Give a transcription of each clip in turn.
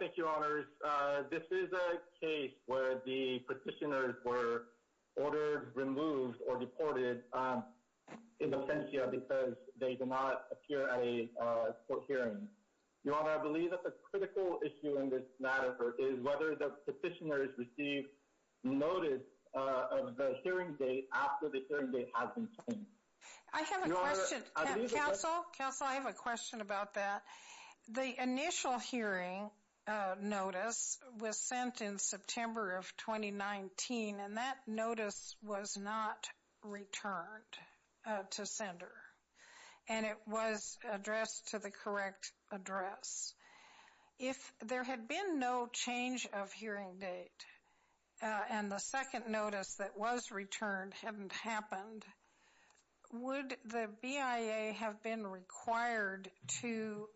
Thank you, Your Honors. This is a case where the petitioners were ordered, removed, or deported in absentia because they did not appear at a court hearing. Your Honor, I believe that the critical issue in this matter is whether the petitioners received notice of the hearing date after the hearing date has been changed. I have a question. Counsel, I have a question about that. The initial hearing notice was sent in September of 2019, and that notice was not returned to sender. And it was addressed to the correct address. If there had been no change of hearing date and the second notice that was returned hadn't happened, would the BIA have been required to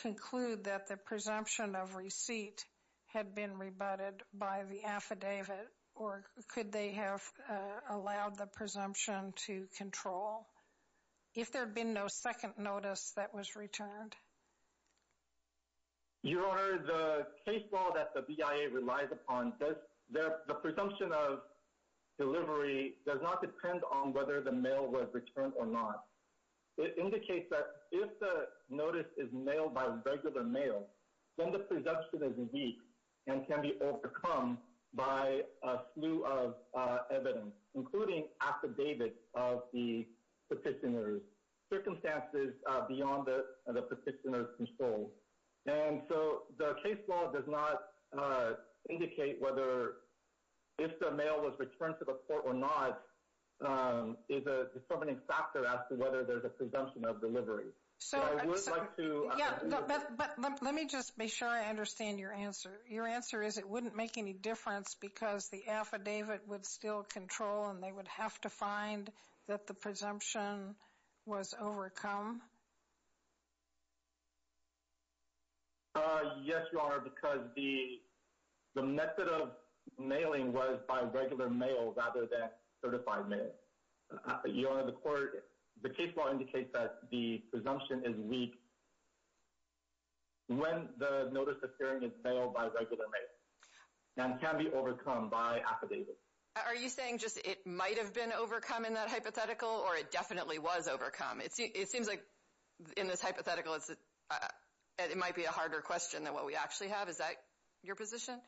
conclude that the presumption of receipt had been rebutted by the affidavit, or could they have allowed the presumption to control? If there had been no second notice that was returned. Your Honor, the case law that the BIA relies upon, the presumption of delivery does not depend on whether the mail was returned or not. It indicates that if the notice is mailed by regular mail, then the presumption is weak and can be overcome by a slew of evidence, including affidavits of the petitioners, circumstances beyond the petitioner's control. And so the case law does not indicate whether if the mail was returned to the court or not is a determining factor as to whether there's a presumption of delivery. So I would like to... But let me just make sure I understand your answer. Your answer is it wouldn't make any difference because the affidavit would still control and they would have to find that the presumption was overcome? Yes, Your Honor, because the method of mailing was by regular mail rather than certified mail. Your Honor, the case law indicates that the presumption is weak. When the notice of hearing is mailed by regular mail and can be overcome by affidavits. Are you saying just it might have been overcome in that hypothetical or it definitely was overcome? It seems like in this hypothetical it might be a harder question than what we actually have. Is that your position?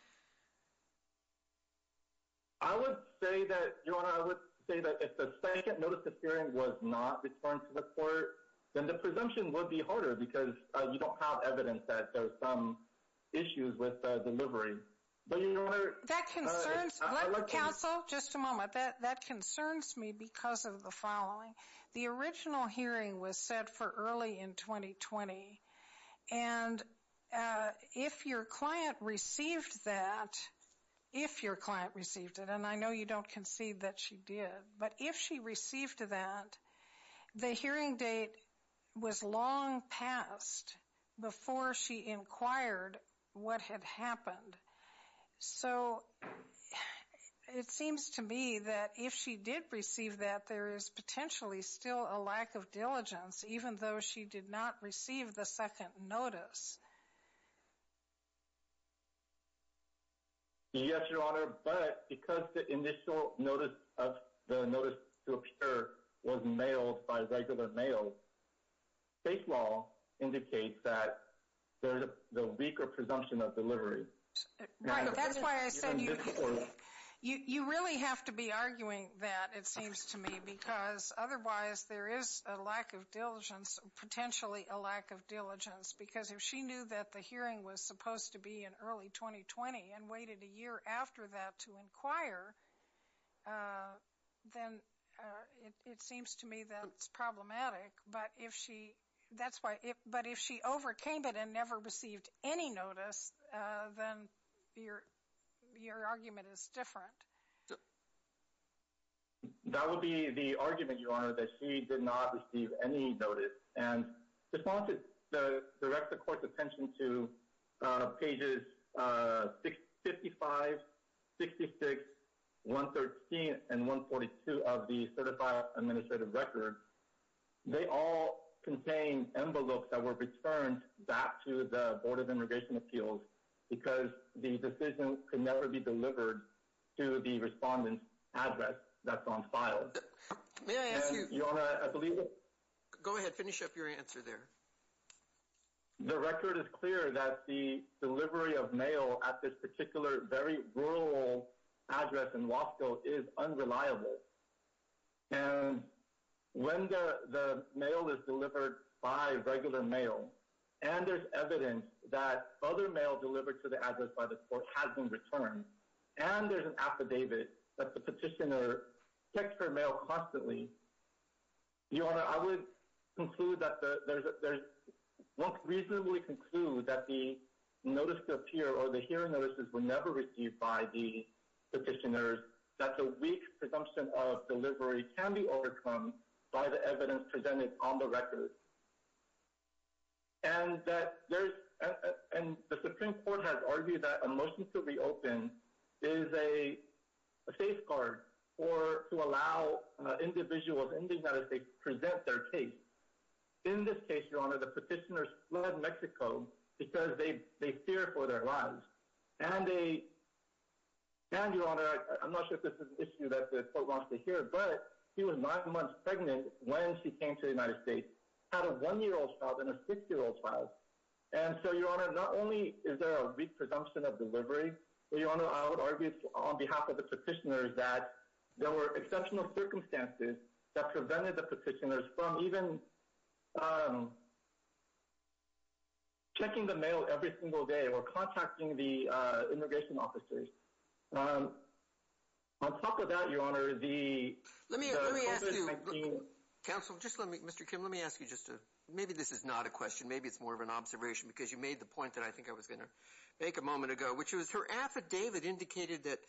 I would say that, Your Honor, I would say that if the second notice of hearing was not returned to the court, then the presumption would be harder because you don't have evidence that there's some issues with delivery. But, Your Honor... That concerns... Let counsel... Just a moment. That concerns me because of the following. The original hearing was set for early in 2020. And if your client received that, if your client received it, and I know you don't concede that she did, but if she received that, the hearing date was long past before she inquired what had happened. So, it seems to me that if she did receive that, there is potentially still a lack of diligence, even though she did not receive the second notice. Yes, Your Honor, but because the initial notice of the notice to appear was mailed by regular mail, state law indicates that there's a weaker presumption of delivery. That's why I said you really have to be arguing that, it seems to me, because otherwise there is a lack of diligence, potentially a lack of diligence, because if she knew that the hearing was supposed to be in early 2020 and waited a year after that to inquire, then it seems to me that it's problematic. But if she overcame it and never received any notice, then your argument is different. That would be the argument, Your Honor, that she did not receive any notice. And just want to direct the Court's attention to pages 55, 66, 113, and 142 of the certified administrative record. They all contain envelopes that were returned back to the Board of Immigration Appeals because the decision could never be delivered to the respondent's address that's on file. May I ask you— Your Honor, I believe that— Go ahead. Finish up your answer there. The record is clear that the delivery of mail at this particular very rural address in Wasco is unreliable. And when the mail is delivered by regular mail, and there's evidence that other mail delivered to the address by the Court has been returned, and there's an affidavit that the petitioner checked her mail constantly, Your Honor, I would conclude that— reasonably conclude that the notice to appear or the hearing notices were never received by the petitioners, that the weak presumption of delivery can be overcome by the evidence presented on the record. And the Supreme Court has argued that a motion to reopen is a safeguard to allow individuals in the United States to present their case. In this case, Your Honor, the petitioners fled Mexico because they fear for their lives. And, Your Honor, I'm not sure if this is an issue that the Court wants to hear, but she was nine months pregnant when she came to the United States, had a one-year-old child and a six-year-old child. And so, Your Honor, not only is there a weak presumption of delivery, but, Your Honor, I would argue on behalf of the petitioners that there were exceptional circumstances that prevented the petitioners from even checking the mail every single day or contacting the immigration officers. On top of that, Your Honor, the— Let me ask you—Counsel, just let me—Mr. Kim, let me ask you just a— maybe this is not a question, maybe it's more of an observation, because you made the point that I think I was going to make a moment ago, which was her affidavit indicated that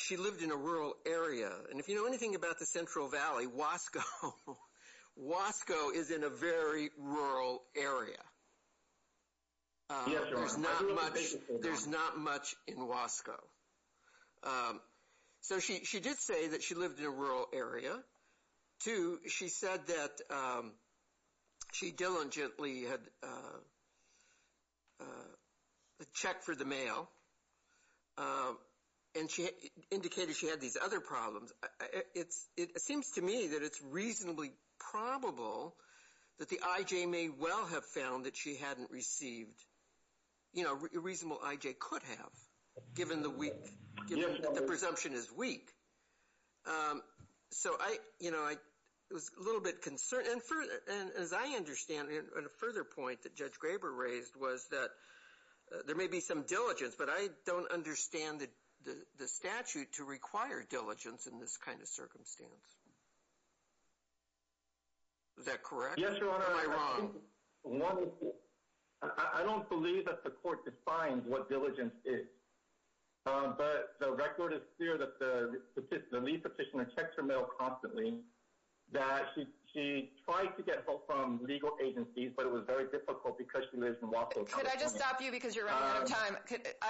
she lived in a rural area. And if you know anything about the Central Valley, Wasco is in a very rural area. Yes, Your Honor. There's not much—there's not much in Wasco. So she did say that she lived in a rural area. Two, she said that she diligently had checked for the mail and indicated she had these other problems. It seems to me that it's reasonably probable that the I.J. may well have found that she hadn't received— you know, a reasonable I.J. could have, given the presumption is weak. So, you know, I was a little bit concerned. And as I understand it, a further point that Judge Graber raised was that there may be some diligence, but I don't understand the statute to require diligence in this kind of circumstance. Is that correct? Yes, Your Honor. Am I wrong? One, I don't believe that the court defines what diligence is. But the record is clear that the lead petitioner checks her mail constantly, that she tried to get help from legal agencies, but it was very difficult because she lives in Wasco County. Could I just stop you because you're running out of time?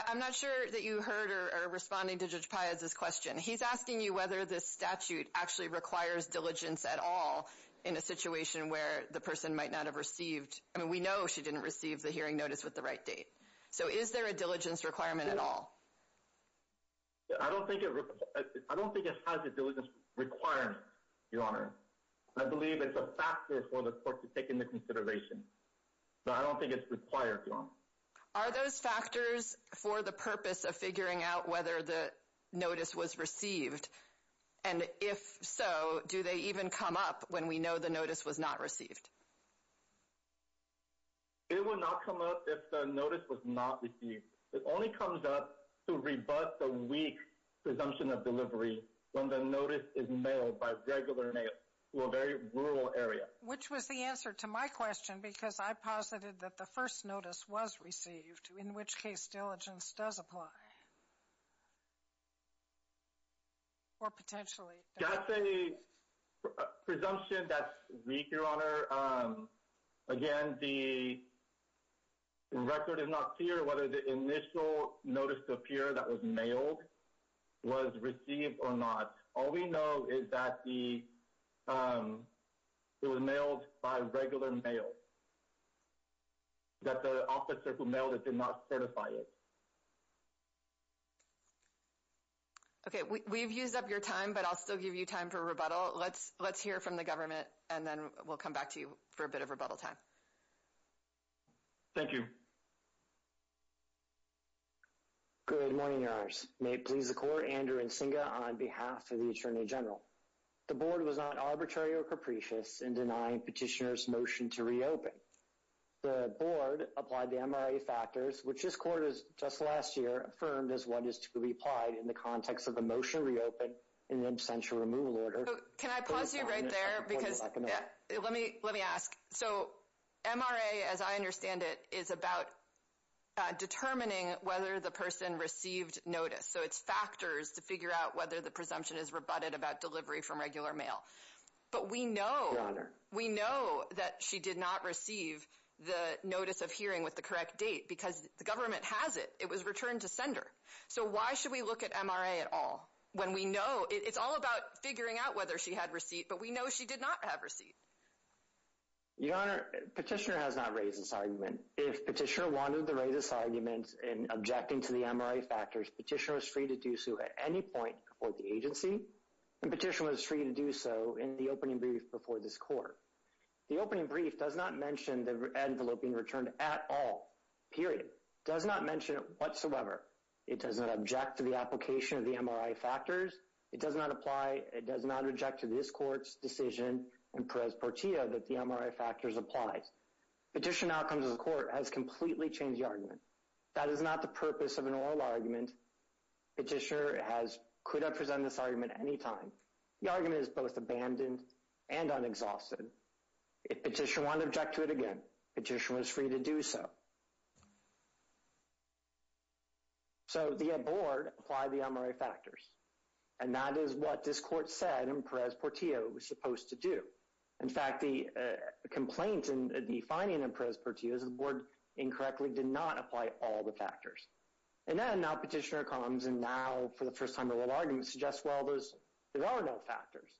I'm not sure that you heard or are responding to Judge Paez's question. He's asking you whether this statute actually requires diligence at all in a situation where the person might not have received— I mean, we know she didn't receive the hearing notice with the right date. So is there a diligence requirement at all? I don't think it has a diligence requirement, Your Honor. I believe it's a factor for the court to take into consideration. But I don't think it's required, Your Honor. Are those factors for the purpose of figuring out whether the notice was received? And if so, do they even come up when we know the notice was not received? It would not come up if the notice was not received. It only comes up to rebut the weak presumption of delivery when the notice is mailed by regular mail to a very rural area. Which was the answer to my question because I posited that the first notice was received, in which case diligence does apply. Or potentially does. That's a presumption that's weak, Your Honor. Again, the record is not clear whether the initial notice to appear that was mailed was received or not. All we know is that it was mailed by regular mail. That the officer who mailed it did not certify it. Okay, we've used up your time, but I'll still give you time for rebuttal. Let's hear from the government, and then we'll come back to you for a bit of rebuttal time. Thank you. Good morning, Your Honors. May it please the Court, Andrew Nsinga on behalf of the Attorney General. The Board was not arbitrary or capricious in denying Petitioner's motion to reopen. The Board applied the MRA factors, which this Court, just last year, affirmed as what is to be applied in the context of the motion to reopen in the absentia removal order. Can I pause you right there? Let me ask. So, MRA, as I understand it, is about determining whether the person received notice. So it's factors to figure out whether the presumption is rebutted about delivery from regular mail. But we know that she did not receive the notice of hearing with the correct date, because the government has it. It was returned to sender. So why should we look at MRA at all, when we know it's all about figuring out whether she had receipt, but we know she did not have receipt? Your Honor, Petitioner has not raised this argument. If Petitioner wanted to raise this argument in objecting to the MRA factors, Petitioner was free to do so at any point before the agency, and Petitioner was free to do so in the opening brief before this Court. The opening brief does not mention the envelope being returned at all. Period. Does not mention it whatsoever. It does not object to the application of the MRA factors. It does not apply, it does not object to this Court's decision, in Perez-Portillo, that the MRA factors apply. Petitioner now comes to the Court and has completely changed the argument. That is not the purpose of an oral argument. Petitioner could have presented this argument at any time. The argument is both abandoned and unexhausted. If Petitioner wanted to object to it again, Petitioner was free to do so. So, the Board applied the MRA factors. And that is what this Court said in Perez-Portillo it was supposed to do. In fact, the complaint in the finding in Perez-Portillo is the Board incorrectly did not apply all the factors. And then, now Petitioner comes and now, for the first time, the oral argument suggests, well, there are no factors.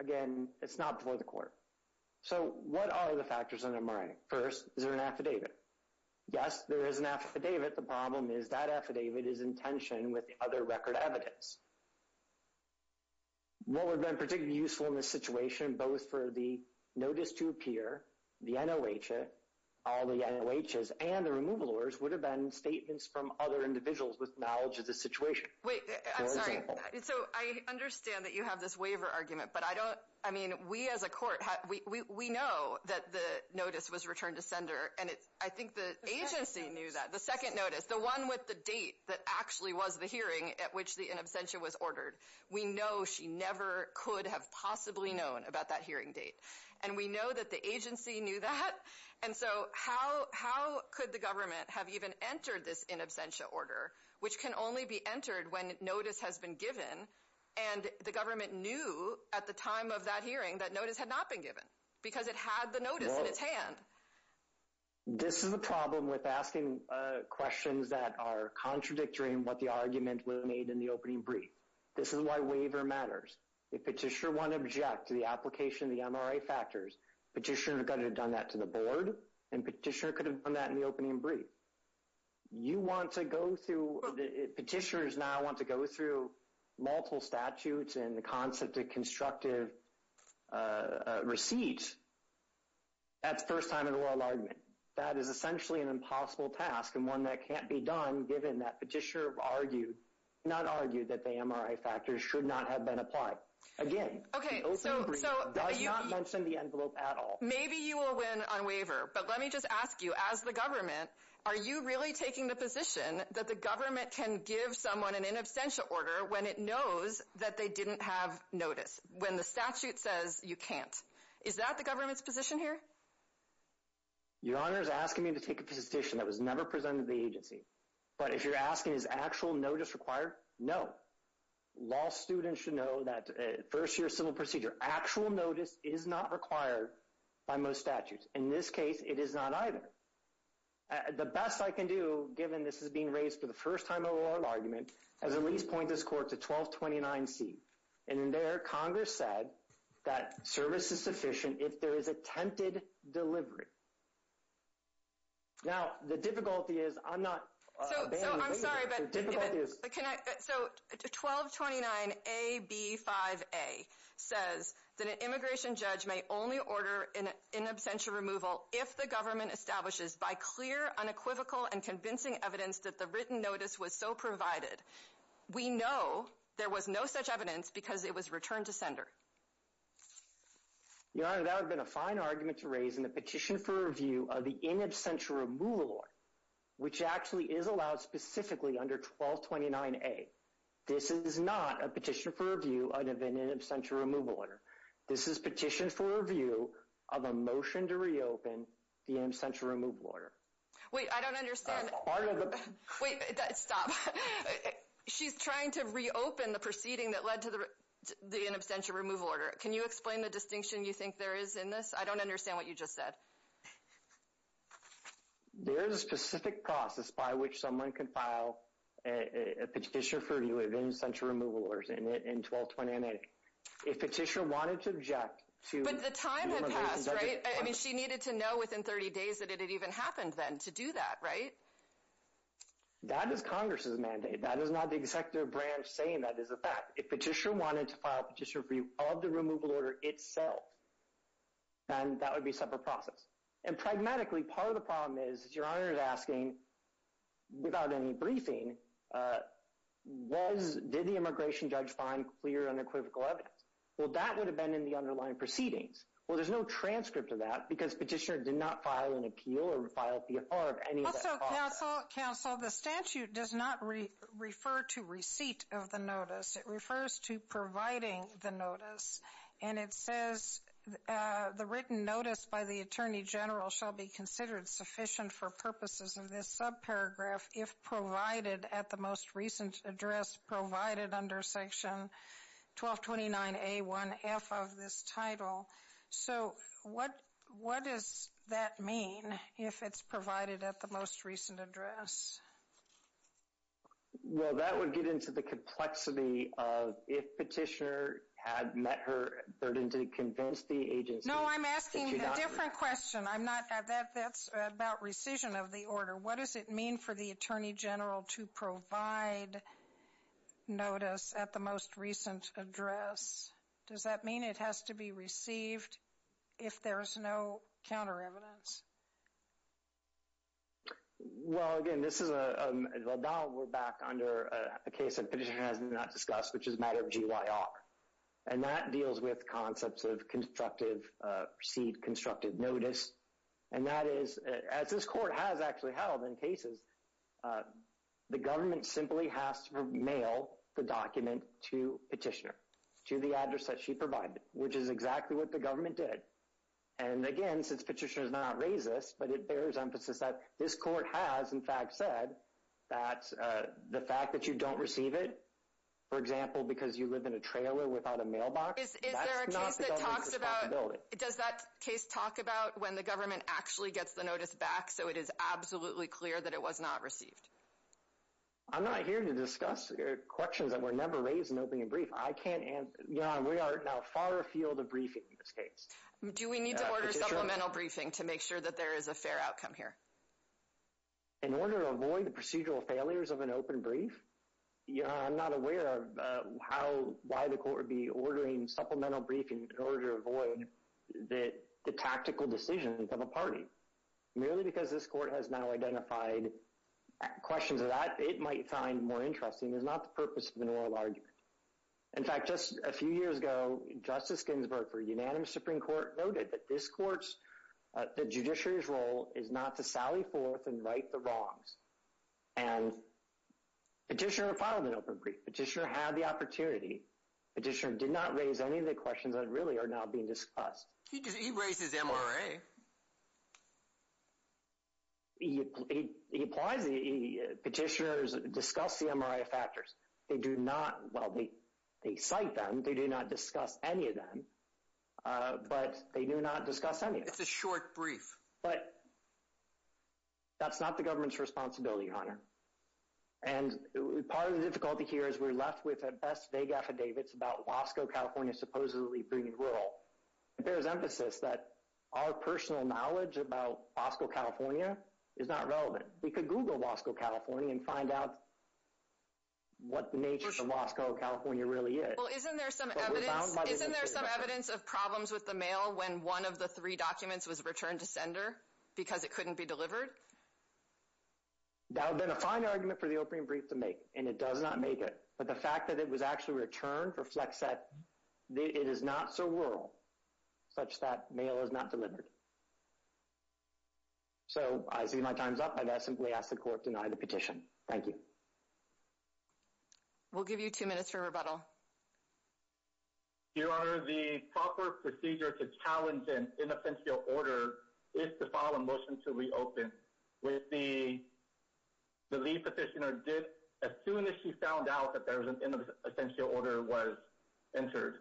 Again, it's not before the Court. So, what are the factors in the MRA? First, is there an affidavit? Yes, there is an affidavit. But the problem is that affidavit is in tension with the other record evidence. What would have been particularly useful in this situation, both for the notice to appear, the NOH, all the NOHs, and the removal orders would have been statements from other individuals with knowledge of the situation. Wait, I'm sorry. So, I understand that you have this waiver argument, but I don't, I mean, we as a Court, we know that the notice was returned to sender. And I think the agency knew that. The second notice, the one with the date that actually was the hearing at which the in absentia was ordered, we know she never could have possibly known about that hearing date. And we know that the agency knew that. And so, how could the government have even entered this in absentia order, which can only be entered when notice has been given, and the government knew at the time of that hearing that notice had not been given? Because it had the notice in its hand. This is a problem with asking questions that are contradictory in what the argument was made in the opening brief. This is why waiver matters. If Petitioner 1 objects to the application of the MRA factors, Petitioner 2 could have done that to the Board, and Petitioner could have done that in the opening brief. You want to go through, Petitioners now want to go through multiple statutes and the concept of constructive receipts. That's first time in a royal argument. That is essentially an impossible task and one that can't be done given that Petitioner argued, not argued, that the MRA factors should not have been applied. Again, the opening brief does not mention the envelope at all. Maybe you will win on waiver, but let me just ask you, as the government, are you really taking the position that the government can give someone an in absentia order when it knows that they didn't have notice, when the statute says you can't? Is that the government's position here? Your Honor is asking me to take a position that was never presented to the agency, but if you're asking is actual notice required, no. Law students should know that first year civil procedure, actual notice is not required by most statutes. In this case, it is not either. The best I can do, given this is being raised for the first time in a royal argument, is at least point this court to 1229C. And there, Congress said that service is sufficient if there is attempted delivery. Now, the difficulty is, I'm not... So, I'm sorry, but... So, 1229AB5A says that an immigration judge may only order an in absentia removal if the government establishes by clear, unequivocal, and convincing evidence that the written notice was so provided. We know there was no such evidence because it was returned to sender. Your Honor, that would have been a fine argument to raise in the petition for review of the in absentia removal order, which actually is allowed specifically under 1229A. This is not a petition for review of an in absentia removal order. This is petition for review of a motion to reopen the in absentia removal order. Wait, I don't understand. Wait, stop. She's trying to reopen the proceeding that led to the in absentia removal order. Can you explain the distinction you think there is in this? I don't understand what you just said. There is a specific process by which someone can file a petition for review of in absentia removal orders in 1229A. If a petitioner wanted to object to... But the time had passed, right? I mean, she needed to know within 30 days that it had even happened then to do that, right? That is Congress's mandate. That is not the executive branch saying that is a fact. If a petitioner wanted to file a petition for review of the removal order itself, then that would be a separate process. And pragmatically, part of the problem is, Your Honor is asking, without any briefing, did the immigration judge find clear unequivocal evidence? Well, that would have been in the underlying proceedings. Well, there's no transcript of that because the petitioner did not file an appeal or file a PFR of any of that... Counsel, the statute does not refer to receipt of the notice. It refers to providing the notice. And it says, the written notice by the Attorney General shall be considered sufficient for purposes of this subparagraph if provided at the most recent address provided under section 1229A1F of this title. So, what does that mean if it's provided at the most recent address? Well, that would get into the complexity of if petitioner had met her burden to convince the agency... No, I'm asking a different question. I'm not... That's about rescission of the order. What does it mean for the Attorney General to provide notice at the most recent address? Does that mean it has to be received if there is no counter-evidence? Well, again, this is a... Well, now we're back under a case that petitioner has not discussed, which is a matter of GYR. And that deals with concepts of constructive... received constructive notice. And that is, as this Court has actually held in cases, the government simply has to mail the document to petitioner, to the address that she provided, which is exactly what the government did. And again, since petitioner has not raised this, but it bears emphasis that this Court has, in fact, said that the fact that you don't receive it, for example, because you live in a trailer without a mailbox, that's not the government's responsibility. Is there a case that talks about... Does that case talk about when the government actually gets the notice back so it is absolutely clear that it was not received? I'm not here to discuss questions that were never raised in opening a brief. I can't answer... Your Honor, we are now far afield of briefing in this case. Do we need to order supplemental briefing to make sure that there is a fair outcome here? In order to avoid the procedural failures of an open brief? Your Honor, I'm not aware of how... why the Court would be ordering supplemental briefing in order to avoid the tactical decisions of a party. Merely because this Court has now identified questions that it might find more interesting is not the purpose of an oral argument. In fact, just a few years ago, Justice Ginsburg, for unanimous Supreme Court, noted that this Court's... the judiciary's role is not to sally forth and right the wrongs. And Petitioner filed an open brief. Petitioner had the opportunity. Petitioner did not raise any of the questions that really are now being discussed. He raised his MRA. MRA? He applies... Petitioners discuss the MRA factors. They do not... Well, they cite them. They do not discuss any of them. But they do not discuss any of them. It's a short brief. But... that's not the government's responsibility, Your Honor. And part of the difficulty here is we're left with, at best, vague affidavits about Wasco, California, supposedly being rural. There's emphasis that our personal knowledge about Wasco, California is not relevant. We could Google Wasco, California and find out what the nature of Wasco, California really is. Well, isn't there some evidence... Isn't there some evidence of problems with the mail when one of the three documents was returned to sender because it couldn't be delivered? That would have been a fine argument for the open brief to make, and it does not make it. But the fact that it was actually returned reflects that it is not so rural such that mail is not delivered. So, I see my time's up, and I simply ask the court to deny the petition. Thank you. We'll give you two minutes for rebuttal. Your Honor, the proper procedure to challenge an innocential order is to file a motion to reopen. The lead petitioner did... As soon as she found out that there was an innocential order was entered.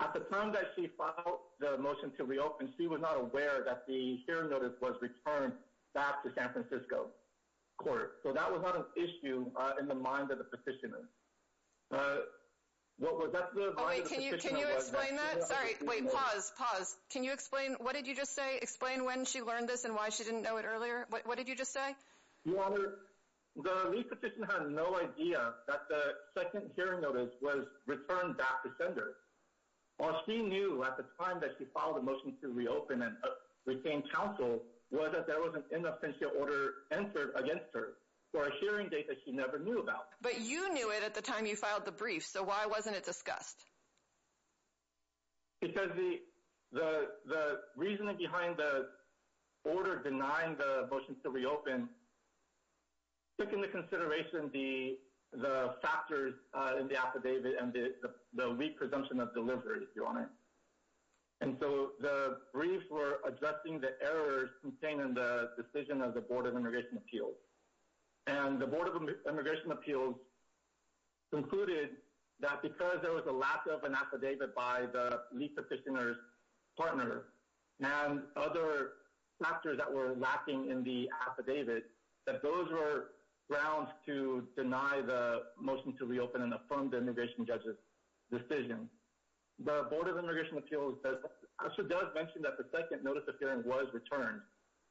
At the time that she filed the motion to reopen, she was not aware that the hearing notice was returned back to San Francisco Court. So that was not an issue in the mind of the petitioner. What was that... Oh, wait, can you explain that? Sorry, wait, pause, pause. Can you explain... What did you just say? Explain when she learned this and why she didn't know it earlier. What did you just say? Your Honor, the lead petitioner had no idea that the second hearing notice was returned back to sender. All she knew at the time that she filed the motion to reopen and obtained counsel was that there was an innocential order entered against her for a hearing date that she never knew about. But you knew it at the time you filed the brief, so why wasn't it discussed? Because the reasoning behind the order denying the motion to reopen took into consideration the factors in the affidavit and the weak presumption of delivery, Your Honor. And so the briefs were addressing the errors contained in the decision of the Board of Immigration Appeals. And the Board of Immigration Appeals concluded that because there was a lack of an affidavit by the lead petitioner's partner and other factors that were lacking in the affidavit, that those were grounds to deny the motion to reopen and affirm the immigration judge's decision. The Board of Immigration Appeals actually does mention that the second notice of hearing was returned,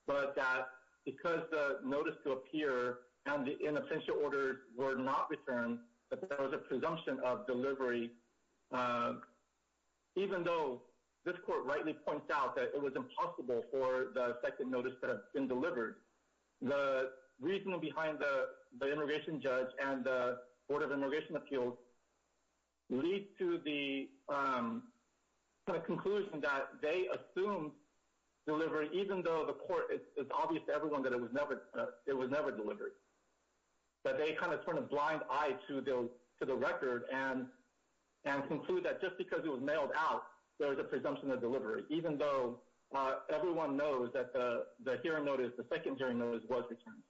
but that because the notice to appear and the innocential order were not returned, that there was a presumption of delivery, even though this court rightly points out that it was impossible for the second notice to have been delivered, the reasoning behind the immigration judge and the Board of Immigration Appeals leads to the conclusion that they assumed delivery, even though the court, it's obvious to everyone that it was never delivered. But they kind of turned a blind eye to the record and conclude that just because it was mailed out, there was a presumption of delivery, even though everyone knows that the hearing notice, the secondary notice was returned.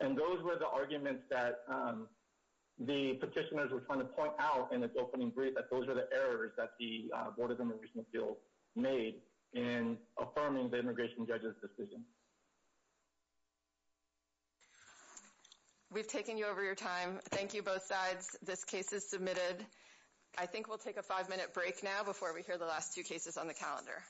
And those were the arguments that the petitioners were trying to point out in its opening brief, that those were the errors that the Board of Immigration Appeals made in affirming the immigration judge's decision. We've taken you over your time. Thank you, both sides. This case is submitted. I think we'll take a five-minute break now before we hear the last two cases on the calendar.